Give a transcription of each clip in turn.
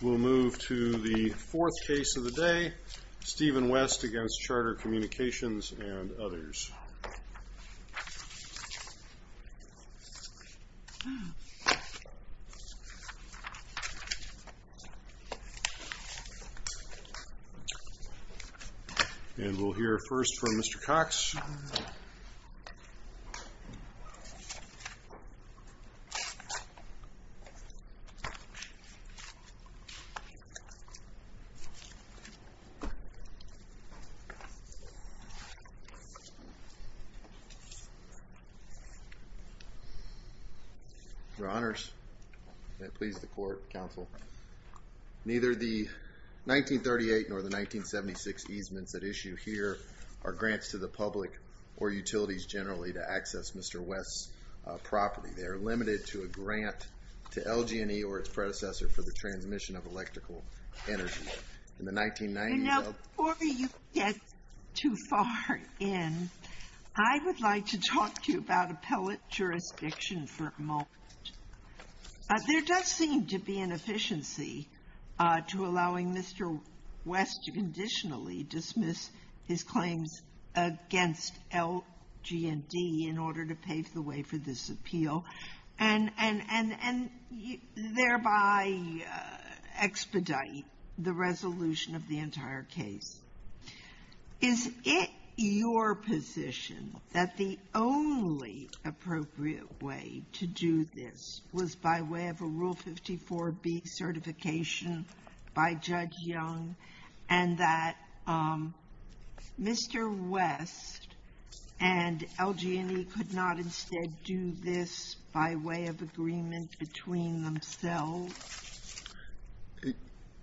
We'll move to the fourth case of the day, Stephen West against Charter Communications and others. And we'll hear first from Mr. Cox. Your Honors, may it please the court, counsel, neither the 1938 nor the 1976 easements that issue here are grants to the public or utilities generally to access Mr. West's property. They are limited to a grant to LG&E or its predecessor for the transmission of electrical energy. In the 1990s, LG&E... Now, before you get too far in, I would like to talk to you about appellate jurisdiction for a moment. There does seem to be an efficiency to allowing Mr. West to conditionally dismiss his claims against LG&E in order to pave the way for this appeal and thereby expedite the resolution of the entire case. Is it your position that the only appropriate way to do this was by way of a Rule 54B certification by Judge Young, and that Mr. West and LG&E could not instead do this by way of agreement between themselves?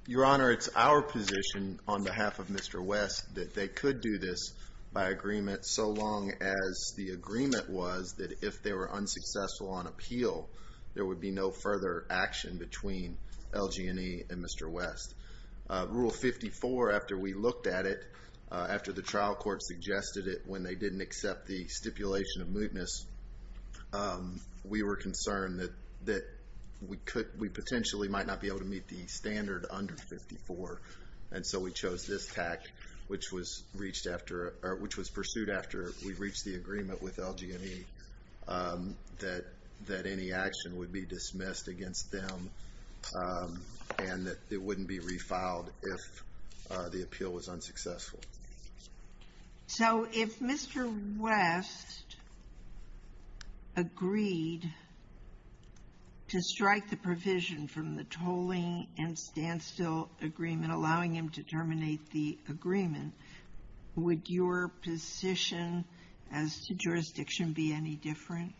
Your Honor, it's our position on behalf of Mr. West that they could do this by agreement so long as the agreement was that if they were unsuccessful on appeal, there would be no further action between LG&E and Mr. West. Rule 54, after we looked at it, after the trial court suggested it when they didn't accept the stipulation of mootness, we were concerned that we potentially might not be able to meet the standard under 54. And so we chose this tact, which was pursued after we reached the agreement with LG&E, that any action would be dismissed against them and that it wouldn't be refiled if the appeal was unsuccessful. So if Mr. West agreed to strike the provision from the tolling and standstill agreement, allowing him to terminate the agreement, would your position as to jurisdiction be any different?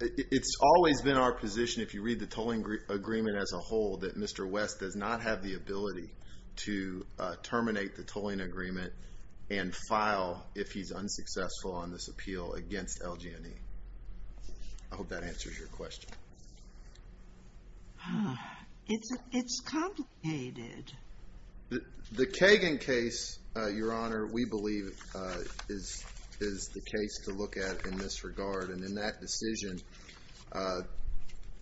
It's always been our position, if you read the tolling agreement as a whole, that Mr. West does not have the ability to terminate the tolling agreement and file if he's unsuccessful on this appeal against LG&E. I hope that answers your question. It's complicated. The Kagan case, Your Honor, we believe is the case to look at in this regard. And in that decision,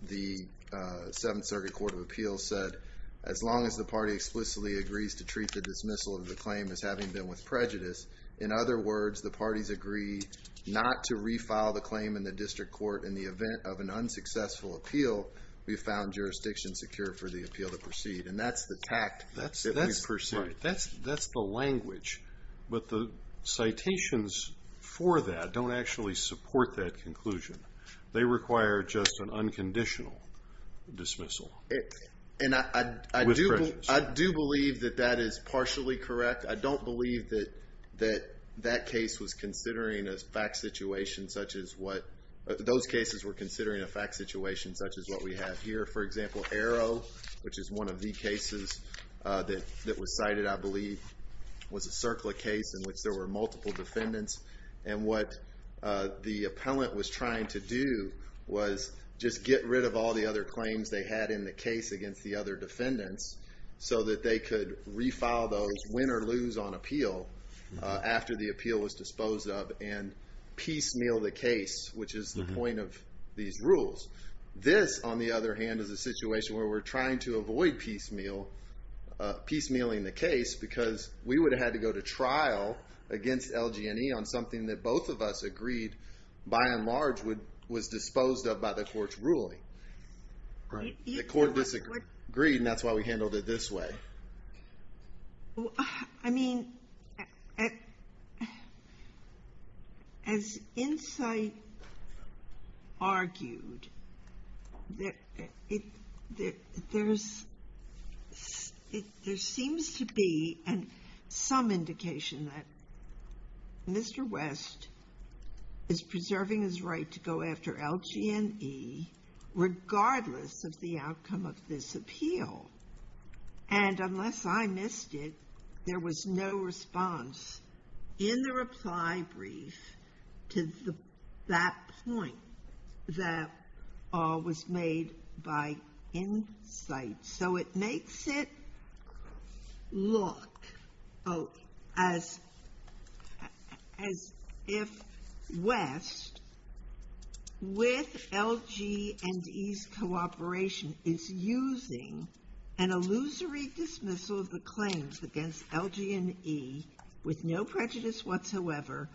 the Seventh Circuit Court of Appeals said, as long as the party explicitly agrees to treat the dismissal of the claim as having been with prejudice, in other words, the parties agree not to refile the claim in the district court in the event of an unsuccessful appeal, we found jurisdiction secure for the appeal to proceed. And that's the tact that we've pursued. That's the language. But the citations for that don't actually support that conclusion. They require just an unconditional dismissal with prejudice. And I do believe that that is partially correct. I don't believe that that case was considering a fact situation such as what – those cases were considering a fact situation such as what we have here. For example, Arrow, which is one of the cases that was cited, I believe, was a CERCLA case in which there were multiple defendants. And what the appellant was trying to do was just get rid of all the other claims they had in the case against the other defendants so that they could refile those win or lose on appeal after the appeal was disposed of and piecemeal the case, which is the point of these rules. This, on the other hand, is a situation where we're trying to avoid piecemealing the case because we would have had to go to trial against LG&E on something that both of us agreed by and large was disposed of by the court's ruling. The court disagreed, and that's why we handled it this way. I mean, as Insight argued, there seems to be some indication that Mr. West is preserving his right to go after LG&E regardless of the outcome of this appeal. And unless I missed it, there was no response in the reply brief to that point that was made by Insight. So it makes it look as if West, with LG&E's cooperation, is using an illusory dismissal of the claims against LG&E with no prejudice whatsoever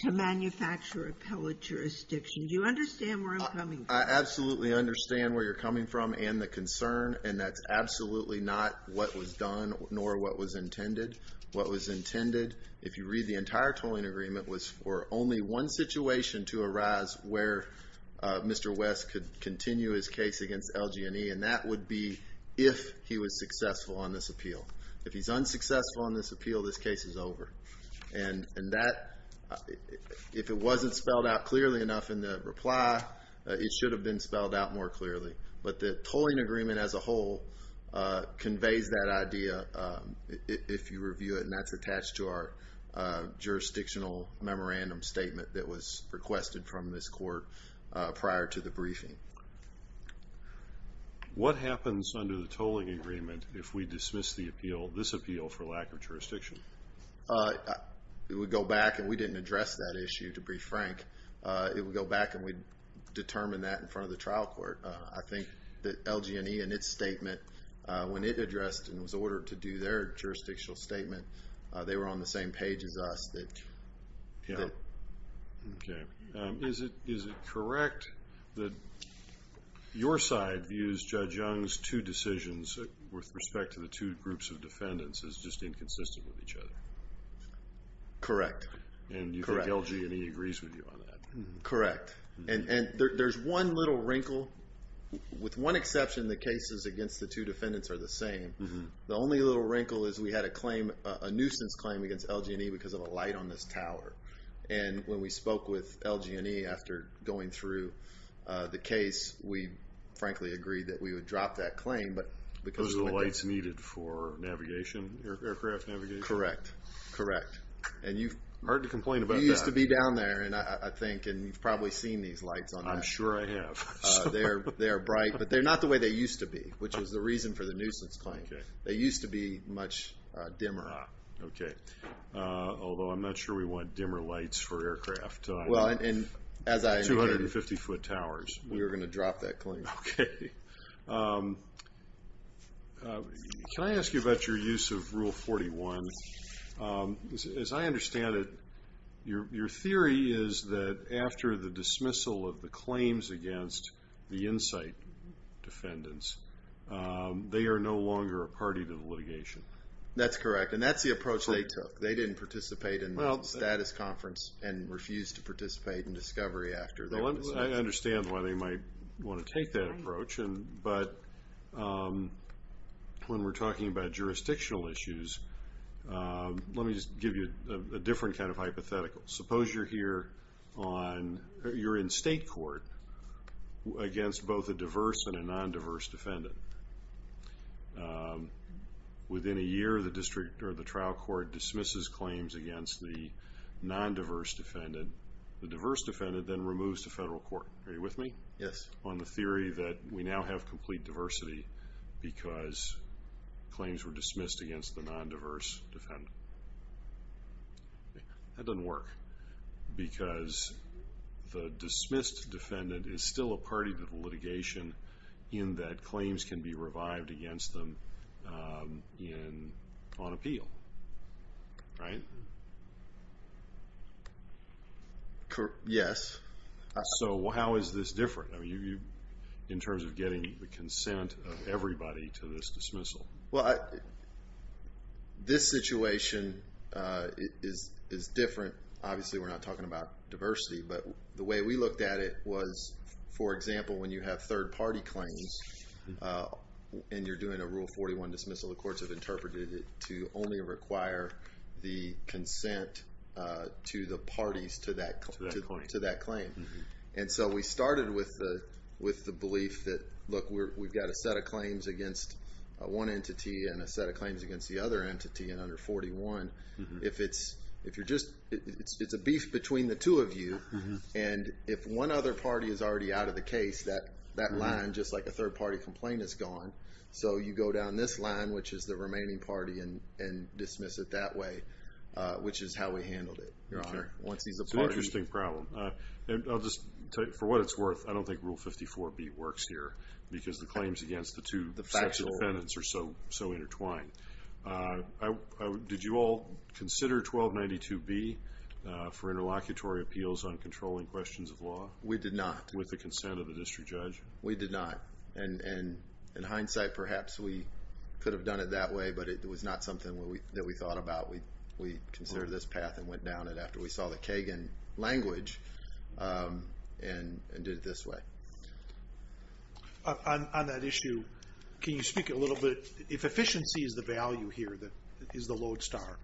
to manufacture appellate jurisdiction. Do you understand where I'm coming from? I absolutely understand where you're coming from and the concern, and that's absolutely not what was done nor what was intended. What was intended, if you read the entire tolling agreement, was for only one situation to arise where Mr. West could continue his case against LG&E, and that would be if he was successful on this appeal. If he's unsuccessful on this appeal, this case is over. And that, if it wasn't spelled out clearly enough in the reply, it should have been spelled out more clearly. But the tolling agreement as a whole conveys that idea if you review it, and that's attached to our jurisdictional memorandum statement that was requested from this court prior to the briefing. What happens under the tolling agreement if we dismiss the appeal, this appeal, for lack of jurisdiction? It would go back, and we didn't address that issue, to be frank. It would go back and we'd determine that in front of the trial court. I think that LG&E in its statement, when it addressed and was ordered to do their jurisdictional statement, they were on the same page as us. Yeah. Okay. Is it correct that your side views Judge Young's two decisions with respect to the two groups of defendants as just inconsistent with each other? Correct. And you think LG&E agrees with you on that? Correct. And there's one little wrinkle. With one exception, the cases against the two defendants are the same. The only little wrinkle is we had a nuisance claim against LG&E because of a light on this tower. And when we spoke with LG&E after going through the case, we frankly agreed that we would drop that claim. Those are the lights needed for aircraft navigation? Correct. Correct. Hard to complain about that. You used to be down there, I think, and you've probably seen these lights on that. I'm sure I have. They're bright, but they're not the way they used to be, which was the reason for the nuisance claim. They used to be much dimmer. Okay. Although I'm not sure we want dimmer lights for aircraft. Well, and as I indicated. 250-foot towers. We were going to drop that claim. Okay. Can I ask you about your use of Rule 41? As I understand it, your theory is that after the dismissal of the claims against the Insight defendants, they are no longer a party to the litigation. That's correct, and that's the approach they took. They didn't participate in the status conference and refused to participate in discovery after. I understand why they might want to take that approach. But when we're talking about jurisdictional issues, let me just give you a different kind of hypothetical. Suppose you're in state court against both a diverse and a non-diverse defendant. Within a year, the district or the trial court dismisses claims against the non-diverse defendant. The diverse defendant then removes to federal court. Are you with me? Yes. Are you with me on the theory that we now have complete diversity because claims were dismissed against the non-diverse defendant? That doesn't work because the dismissed defendant is still a party to the litigation in that claims can be revived against them on appeal, right? Yes. So how is this different in terms of getting the consent of everybody to this dismissal? Well, this situation is different. Obviously, we're not talking about diversity, but the way we looked at it was, for example, when you have third-party claims and you're doing a Rule 41 dismissal, the courts have interpreted it to only require the consent to the parties to that claim. And so we started with the belief that, look, we've got a set of claims against one entity and a set of claims against the other entity in under 41. If it's a beef between the two of you and if one other party is already out of the case, that line, just like a third-party complaint, is gone. So you go down this line, which is the remaining party, and dismiss it that way, which is how we handled it, Your Honor. It's an interesting problem. For what it's worth, I don't think Rule 54b works here because the claims against the two sets of defendants are so intertwined. Did you all consider 1292b for interlocutory appeals on controlling questions of law? We did not. With the consent of the district judge? We did not. And in hindsight, perhaps we could have done it that way, but it was not something that we thought about. We considered this path and went down it after we saw the Kagan language and did it this way. On that issue, can you speak a little bit? If efficiency is the value here that is the lodestar,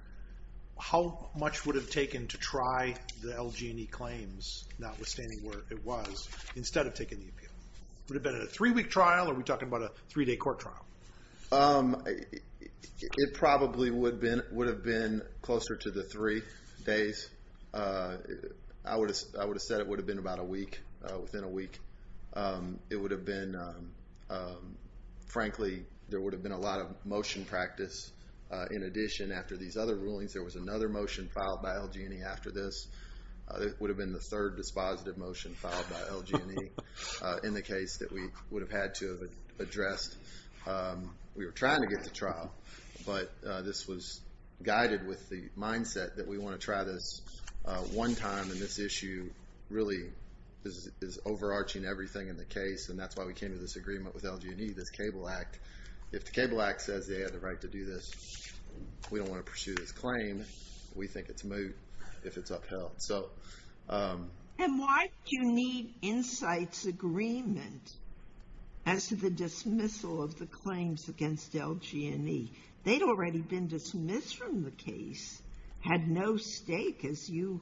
how much would it have taken to try the LG&E claims, notwithstanding where it was, instead of taking the appeal? Would it have been a three-week trial, or are we talking about a three-day court trial? It probably would have been closer to the three days. I would have said it would have been about a week, within a week. It would have been, frankly, there would have been a lot of motion practice. In addition, after these other rulings, there was another motion filed by LG&E after this. It would have been the third dispositive motion filed by LG&E. In the case that we would have had to have addressed, we were trying to get the trial, but this was guided with the mindset that we want to try this one time, and this issue really is overarching everything in the case, and that's why we came to this agreement with LG&E, this Cable Act. If the Cable Act says they have the right to do this, we don't want to pursue this claim. We think it's moot if it's upheld. And why do you need Insights Agreement as to the dismissal of the claims against LG&E? They'd already been dismissed from the case, had no stake, as you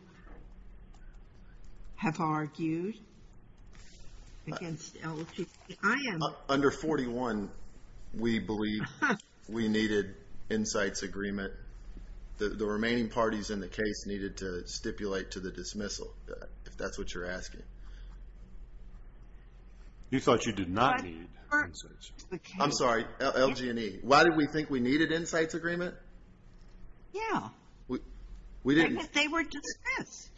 have argued, against LG&E. Under 41, we believe we needed Insights Agreement. The remaining parties in the case needed to stipulate to the dismissal, if that's what you're asking. You thought you did not need Insights Agreement. I'm sorry, LG&E. Why did we think we needed Insights Agreement? Yeah, because they were dismissed.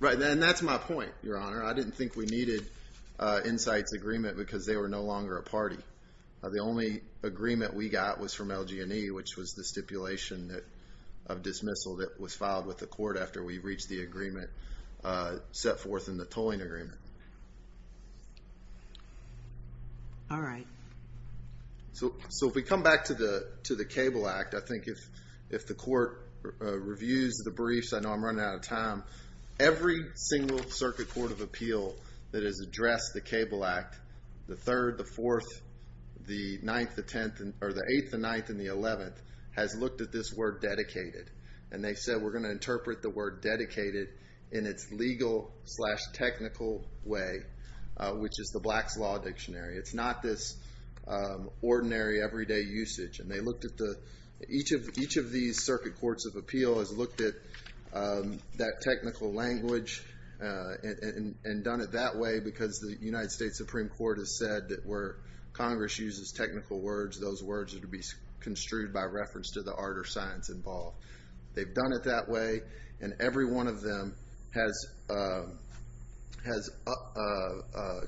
Right, and that's my point, Your Honor. I didn't think we needed Insights Agreement because they were no longer a party. The only agreement we got was from LG&E, which was the stipulation of dismissal that was filed with the court after we reached the agreement set forth in the tolling agreement. All right. So if we come back to the Cable Act, I think if the court reviews the briefs, I know I'm running out of time, every single Circuit Court of Appeal that has addressed the Cable Act, the 3rd, the 4th, the 9th, the 10th, or the 8th, the 9th, and the 11th, has looked at this word dedicated. And they said, we're going to interpret the word dedicated in its legal slash technical way, which is the Black's Law Dictionary. It's not this ordinary, everyday usage. And they looked at the, each of these Circuit Courts of Appeal has looked at that technical language and done it that way because the United States Supreme Court has said that where Congress uses technical words, those words are to be construed by reference to the art or science involved. They've done it that way, and every one of them has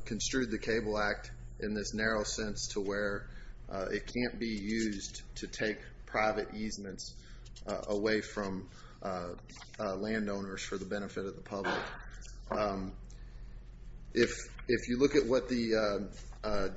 construed the Cable Act in this narrow sense to where it can't be used to take private easements away from landowners for the benefit of the public. If you look at what the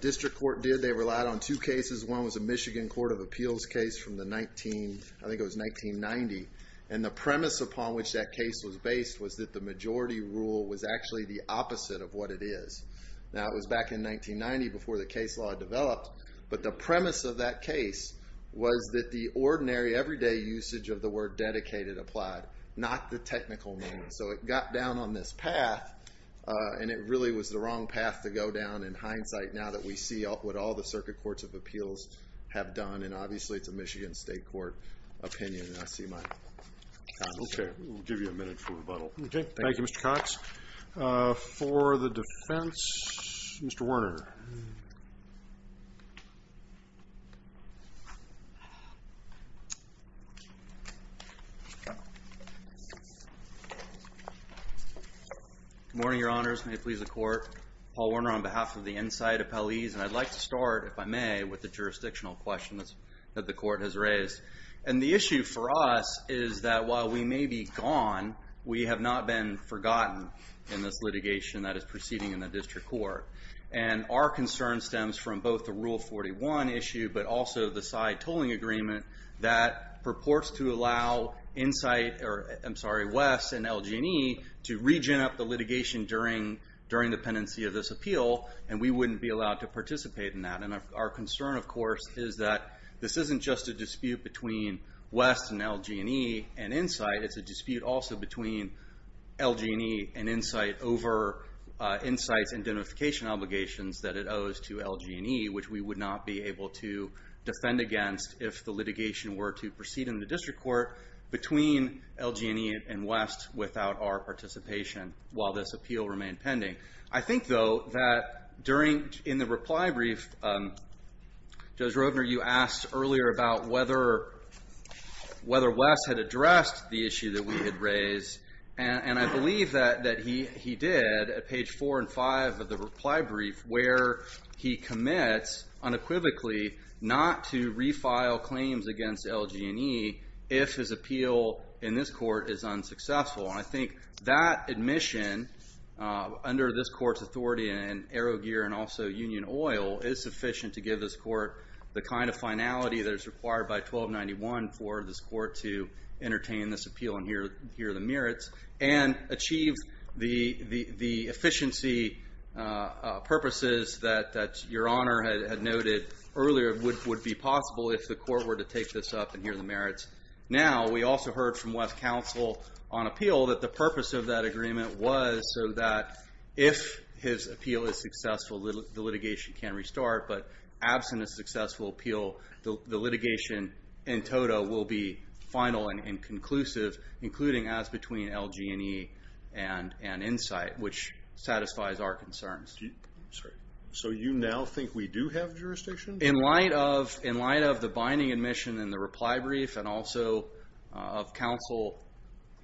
District Court did, they relied on two cases. One was a Michigan Court of Appeals case from the 19, I think it was 1990. And the premise upon which that case was based was that the majority rule was actually the opposite of what it is. Now, it was back in 1990 before the case law developed, but the premise of that case was that the ordinary, everyday usage of the word dedicated applied, not the technical meaning. So it got down on this path, and it really was the wrong path to go down in hindsight now that we see what all the Circuit Courts of Appeals have done, and obviously it's a Michigan State Court opinion, and I see my time is up. Okay, we'll give you a minute for rebuttal. Okay, thank you, Mr. Cox. For the defense, Mr. Werner. Good morning, Your Honors. May it please the Court. Paul Werner on behalf of the Insight Appellees, and I'd like to start, if I may, with the jurisdictional questions that the Court has raised. And the issue for us is that while we may be gone, we have not been forgotten in this litigation that is proceeding in the District Court. And our concern stems from both the Rule 41 issue, but also the side tolling agreement that purports to allow West and LG&E to regen up the litigation during the pendency of this appeal, and we wouldn't be allowed to participate in that. And our concern, of course, is that this isn't just a dispute between West and LG&E and Insight, it's a dispute also between LG&E and Insight over Insight's identification obligations that it owes to LG&E, which we would not be able to defend against if the litigation were to proceed in the District Court between LG&E and West without our participation while this appeal remained pending. I think, though, that in the reply brief, Judge Roedner, you asked earlier about whether West had addressed the issue that we had raised, and I believe that he did at page 4 and 5 of the reply brief, where he commits, unequivocally, not to refile claims against LG&E if his appeal in this court is unsuccessful. And I think that admission, under this court's authority, and Arrowgear and also Union Oil, is sufficient to give this court the kind of finality that is required by 1291 for this court to entertain this appeal and hear the merits and achieve the efficiency purposes that Your Honor had noted earlier would be possible if the court were to take this up and hear the merits. Now, we also heard from West Counsel on appeal that the purpose of that agreement was so that if his appeal is successful, the litigation can restart, but absent a successful appeal, the litigation in total will be final and conclusive, including as between LG&E and Insight, which satisfies our concerns. So you now think we do have jurisdiction? In light of the binding admission in the reply brief and also of counsel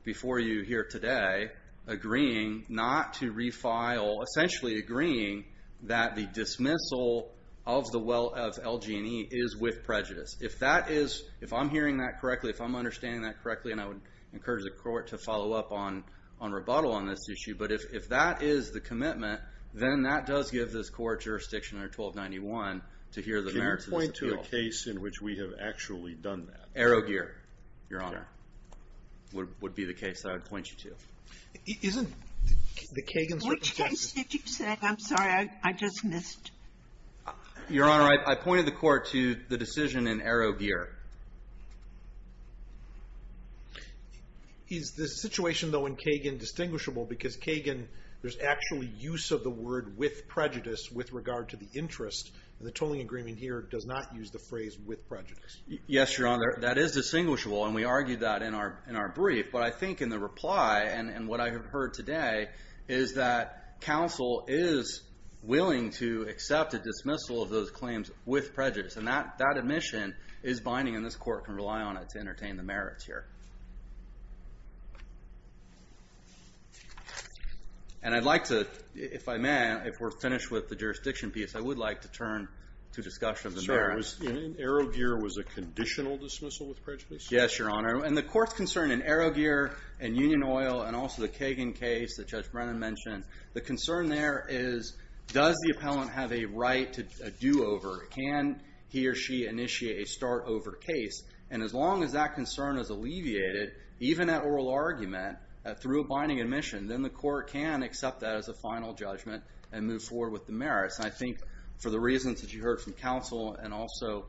before you here today agreeing not to refile, essentially agreeing that the dismissal of LG&E is with prejudice. If I'm hearing that correctly, if I'm understanding that correctly, and I would encourage the court to follow up on rebuttal on this issue, but if that is the commitment, then that does give this court jurisdiction under 1291 to hear the merits of this appeal. Can you point to a case in which we have actually done that? Arrowgear, Your Honor, would be the case that I would point you to. Isn't the Kagan's representative... Which case did you say? I'm sorry. I just missed. Your Honor, I pointed the court to the decision in Arrowgear. Is the situation, though, in Kagan distinguishable? Because Kagan, there's actually use of the word with prejudice with regard to the interest. The tolling agreement here does not use the phrase with prejudice. Yes, Your Honor, that is distinguishable, and we argued that in our brief. But I think in the reply and what I have heard today is that counsel is willing to accept a dismissal of those claims with prejudice. And that admission is binding, and this court can rely on it to entertain the merits here. And I'd like to, if I may, if we're finished with the jurisdiction piece, I would like to turn to discussion of the merits. Arrowgear was a conditional dismissal with prejudice? Yes, Your Honor, and the court's concern in Arrowgear and Union Oil and also the Kagan case that Judge Brennan mentioned, the concern there is does the appellant have a right to a do-over? Can he or she initiate a start-over case? And as long as that concern is alleviated, even at oral argument, through a binding admission, then the court can accept that as a final judgment and move forward with the merits. And I think for the reasons that you heard from counsel and also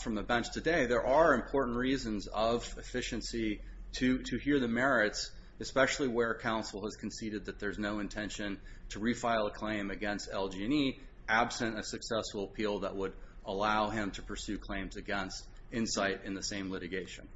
from the bench today, there are important reasons of efficiency to hear the merits, especially where counsel has conceded that there's no intention to refile a claim against LG&E absent a successful appeal that would allow him to pursue claims against Insight in the same litigation.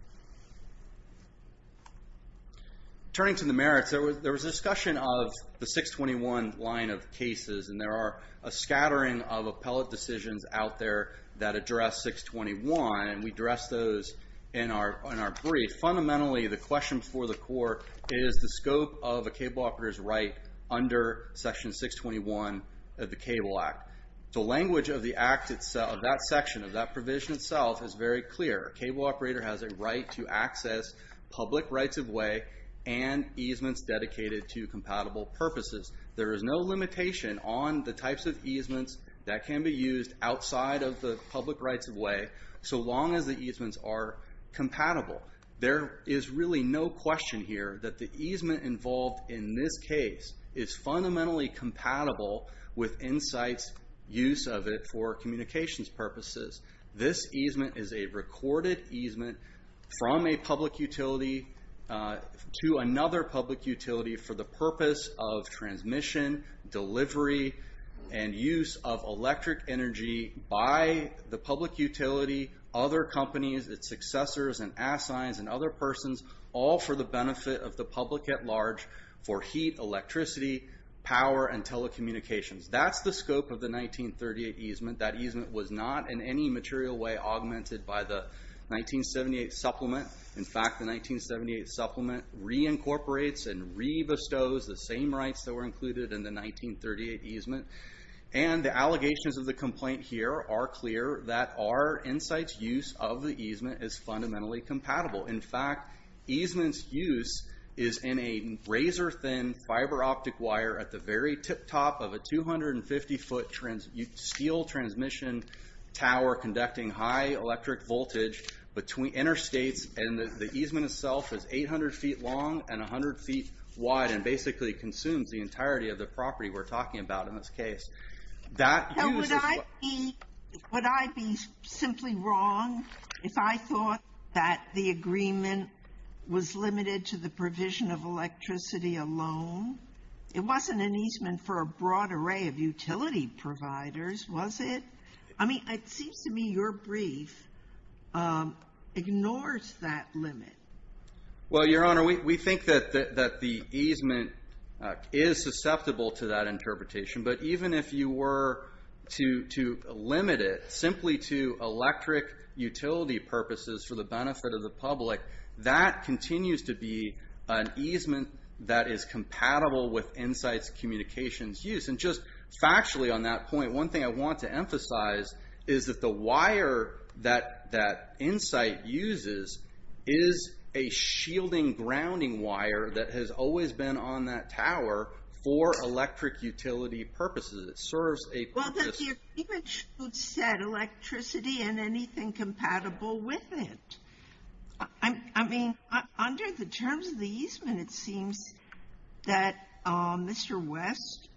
Turning to the merits, there was discussion of the 621 line of cases, and there are a scattering of appellate decisions out there that address 621, and we address those in our brief. Fundamentally, the question for the court is the scope of a cable operator's right under Section 621 of the Cable Act. The language of that section, of that provision itself, is very clear. A cable operator has a right to access public rights-of-way and easements dedicated to compatible purposes. There is no limitation on the types of easements that can be used outside of the public rights-of-way so long as the easements are compatible. There is really no question here that the easement involved in this case is fundamentally compatible with Insight's use of it for communications purposes. This easement is a recorded easement from a public utility to another public utility for the purpose of transmission, delivery, and use of electric energy by the public utility, other companies, its successors, and assigns, and other persons, all for the benefit of the public at large for heat, electricity, power, and telecommunications. That's the scope of the 1938 easement. That easement was not in any material way augmented by the 1978 supplement. In fact, the 1978 supplement reincorporates and re-bestows the same rights that were included in the 1938 easement. And the allegations of the complaint here are clear that our Insight's use of the easement is fundamentally compatible. In fact, easement's use is in a razor-thin fiber-optic wire at the very tip-top of a 250-foot steel transmission tower conducting high electric voltage between interstates, and the easement itself is 800 feet long and 100 feet wide and basically consumes the entirety of the property we're talking about in this case. Now, would I be simply wrong if I thought that the agreement was limited to the provision of electricity alone? It wasn't an easement for a broad array of utility providers, was it? I mean, it seems to me your brief ignores that limit. Well, Your Honor, we think that the easement is susceptible to that interpretation. But even if you were to limit it simply to electric utility purposes for the benefit of the public, that continues to be an easement that is compatible with Insight's communications use. And just factually on that point, one thing I want to emphasize is that the wire that Insight uses is a shielding grounding wire that has always been on that tower for electric utility purposes. It serves a purpose. Well, the agreement should set electricity and anything compatible with it. I mean, under the terms of the easement, it seems that Mr. West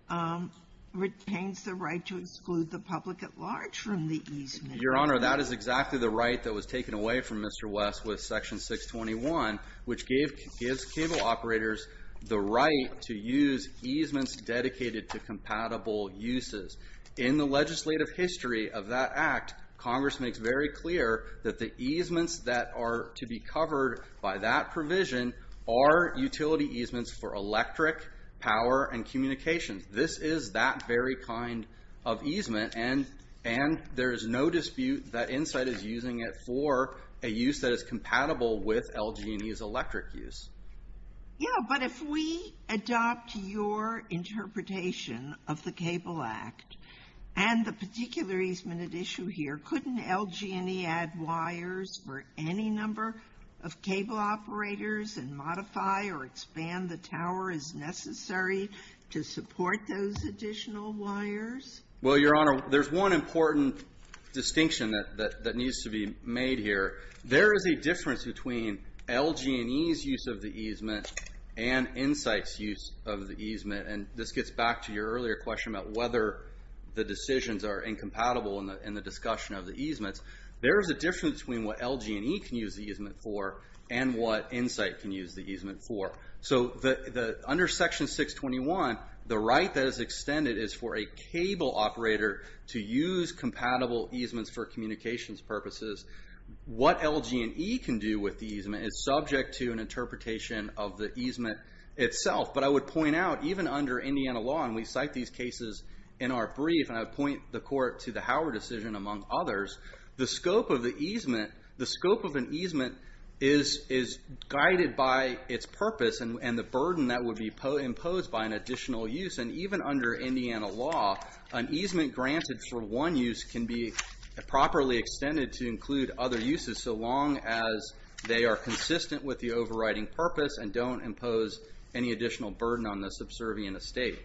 retains the right to exclude the public at large from the easement. Your Honor, that is exactly the right that was taken away from Mr. West with Section 621, which gives cable operators the right to use easements dedicated to compatible uses. In the legislative history of that act, Congress makes very clear that the easements that are to be covered by that provision are utility easements for electric power and communications. This is that very kind of easement, and there is no dispute that Insight is using it for a use that is compatible with LG&E's electric use. Yeah, but if we adopt your interpretation of the Cable Act and the particular easement at issue here, couldn't LG&E add wires for any number of cable operators and modify or expand the tower as necessary to support those additional wires? Well, Your Honor, there's one important distinction that needs to be made here. There is a difference between LG&E's use of the easement and Insight's use of the easement, and this gets back to your earlier question about whether the decisions are incompatible in the discussion of the easements. There is a difference between what LG&E can use the easement for and what Insight can use the easement for. So under Section 621, the right that is extended is for a cable operator to use compatible easements for communications purposes. What LG&E can do with the easement is subject to an interpretation of the easement itself. But I would point out, even under Indiana law, and we cite these cases in our brief, and I would point the Court to the Howard decision among others, the scope of an easement is guided by its purpose and the burden that would be imposed by an additional use. And even under Indiana law, an easement granted for one use can be properly extended to include other uses so long as they are consistent with the overriding purpose and don't impose any additional burden on the subservient estate.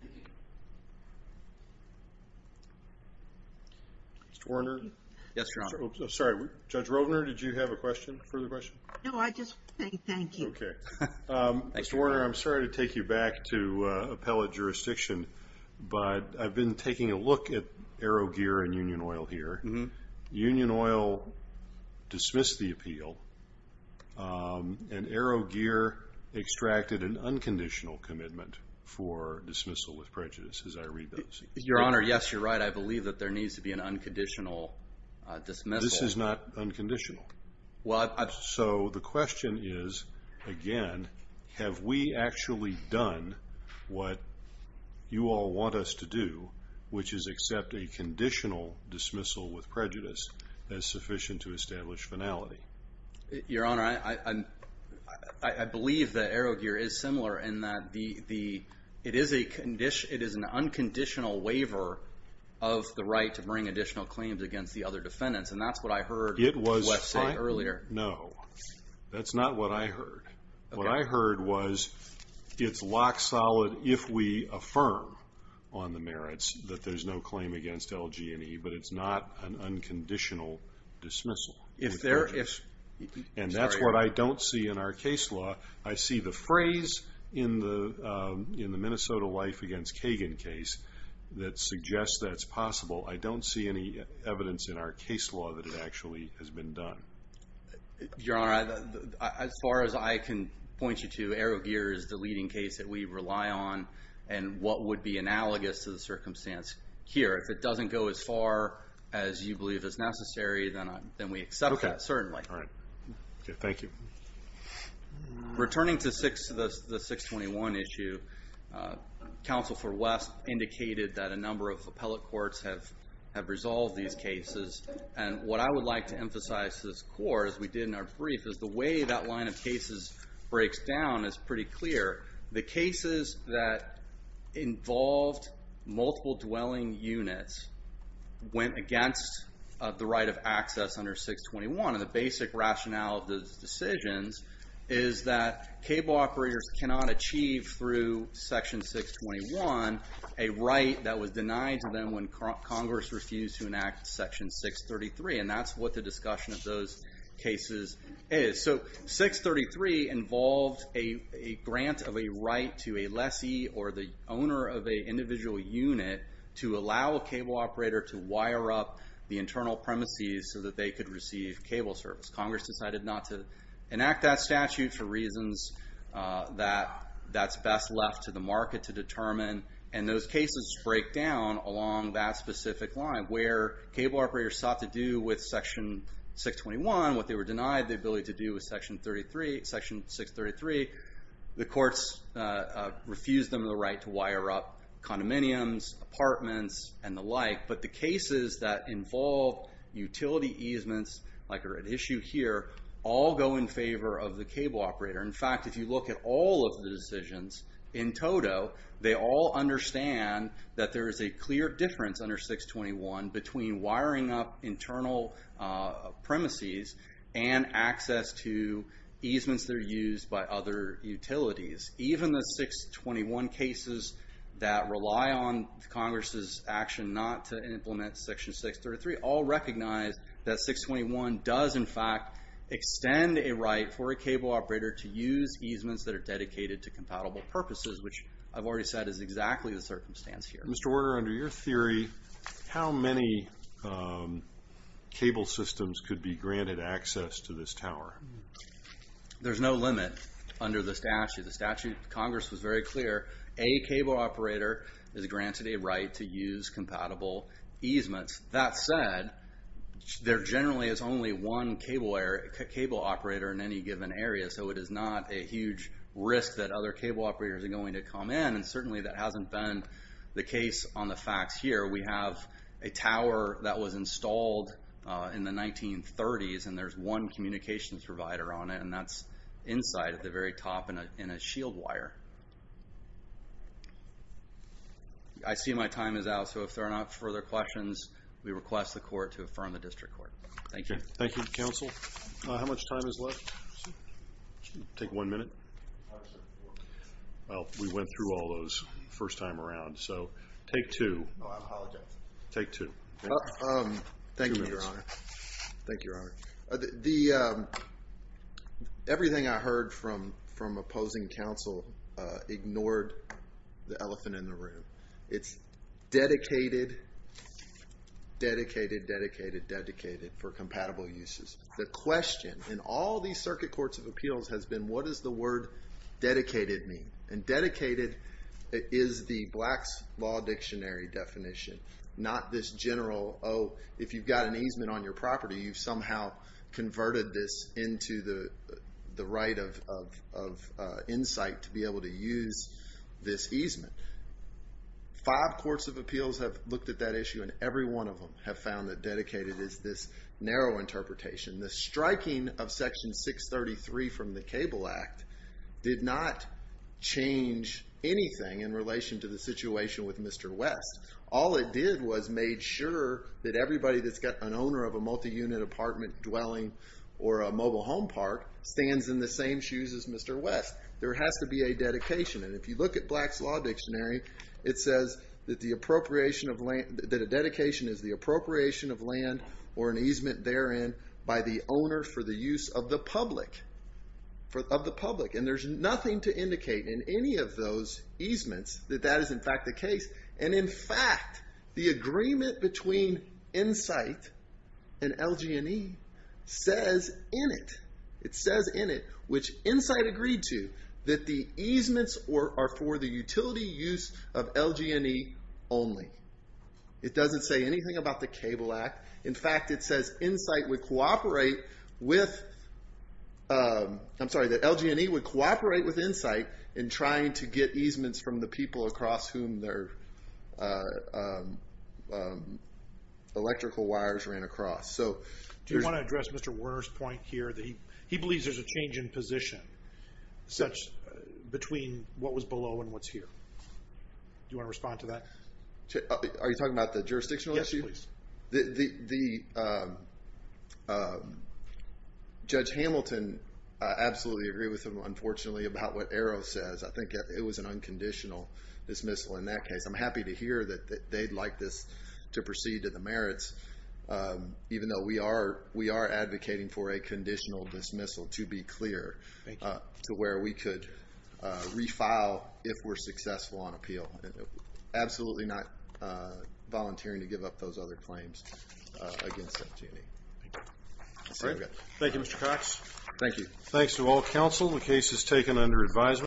Thank you. Mr. Werner? Yes, Your Honor. I'm sorry. Judge Rogner, did you have a further question? No, I just want to say thank you. Okay. Mr. Werner, I'm sorry to take you back to appellate jurisdiction, but I've been taking a look at Arrow Gear and Union Oil here. Union Oil dismissed the appeal, and Arrow Gear extracted an unconditional commitment for dismissal with prejudice, as I read those. Your Honor, yes, you're right. I believe that there needs to be an unconditional dismissal. This is not unconditional. So the question is, again, have we actually done what you all want us to do, which is accept a conditional dismissal with prejudice as sufficient to establish finality? Your Honor, I believe that Arrow Gear is similar in that it is an unconditional waiver of the right to bring additional claims against the other defendants, and that's what I heard Wes say earlier. No, that's not what I heard. What I heard was it's lock solid if we affirm on the merits that there's no claim against LG&E, but it's not an unconditional dismissal with prejudice. And that's what I don't see in our case law. I see the phrase in the Minnesota life against Kagan case that suggests that it's possible. I don't see any evidence in our case law that it actually has been done. Your Honor, as far as I can point you to, Arrow Gear is the leading case that we rely on, and what would be analogous to the circumstance here. If it doesn't go as far as you believe is necessary, then we accept that, certainly. All right. Thank you. Returning to the 621 issue, Counsel for Wes indicated that a number of appellate courts have resolved these cases, and what I would like to emphasize to this Court, as we did in our brief, is the way that line of cases breaks down is pretty clear. The cases that involved multiple dwelling units went against the right of access under 621, and the basic rationale of those decisions is that cable operators cannot achieve through Section 621 a right that was denied to them when Congress refused to enact Section 633, and that's what the discussion of those cases is. 633 involved a grant of a right to a lessee or the owner of an individual unit to allow a cable operator to wire up the internal premises so that they could receive cable service. Congress decided not to enact that statute for reasons that that's best left to the market to determine, and those cases break down along that specific line where cable operators sought to do with Section 621. What they were denied the ability to do with Section 633, the courts refused them the right to wire up condominiums, apartments, and the like, but the cases that involve utility easements, like are at issue here, all go in favor of the cable operator. In fact, if you look at all of the decisions in total, they all understand that there is a clear difference under 621 between wiring up internal premises and access to easements that are used by other utilities. Even the 621 cases that rely on Congress's action not to implement Section 633 all recognize that 621 does, in fact, extend a right for a cable operator to use easements that are dedicated to compatible purposes, which I've already said is exactly the circumstance here. Mr. Werner, under your theory, how many cable systems could be granted access to this tower? There's no limit under the statute. The statute of Congress was very clear. A cable operator is granted a right to use compatible easements. That said, there generally is only one cable operator in any given area, so it is not a huge risk that other cable operators are going to come in, and certainly that hasn't been the case on the facts here. We have a tower that was installed in the 1930s, and there's one communications provider on it, and that's inside at the very top in a shield wire. I see my time is out, so if there are not further questions, we request the court to affirm the district court. Thank you. Thank you, counsel. How much time is left? Take one minute. Well, we went through all those the first time around, so take two. Oh, I apologize. Take two. Thank you, Your Honor. Thank you, Your Honor. Everything I heard from opposing counsel ignored the elephant in the room. It's dedicated, dedicated, dedicated, dedicated for compatible uses. The question in all these circuit courts of appeals has been, what does the word dedicated mean? And dedicated is the Black's Law Dictionary definition, not this general, oh, if you've got an easement on your property, you've somehow converted this into the right of insight to be able to use this easement. Five courts of appeals have looked at that issue, and every one of them have found that dedicated is this narrow interpretation. The striking of Section 633 from the Cable Act did not change anything in relation to the situation with Mr. West. All it did was made sure that everybody that's got an owner of a multi-unit apartment dwelling or a mobile home park stands in the same shoes as Mr. West. There has to be a dedication, and if you look at Black's Law Dictionary, it says that a dedication is the appropriation of land or an easement therein by the owner for the use of the public. And there's nothing to indicate in any of those easements that that is in fact the case. And in fact, the agreement between insight and LG&E says in it, which insight agreed to, that the easements are for the utility use of LG&E only. It doesn't say anything about the Cable Act. In fact, it says that LG&E would cooperate with insight in trying to get easements from the people across whom their electrical wires ran across. Do you want to address Mr. Werner's point here? He believes there's a change in position between what was below and what's here. Do you want to respond to that? Are you talking about the jurisdictional issue? Yes, please. Judge Hamilton, I absolutely agree with him, unfortunately, about what Arrow says. I think it was an unconditional dismissal in that case. I'm happy to hear that they'd like this to proceed to the merits, even though we are advocating for a conditional dismissal, to be clear, to where we could refile if we're successful on appeal. Absolutely not volunteering to give up those other claims against LG&E. Thank you, Mr. Cox. Thank you. Thanks to all counsel. The case is taken under advisement.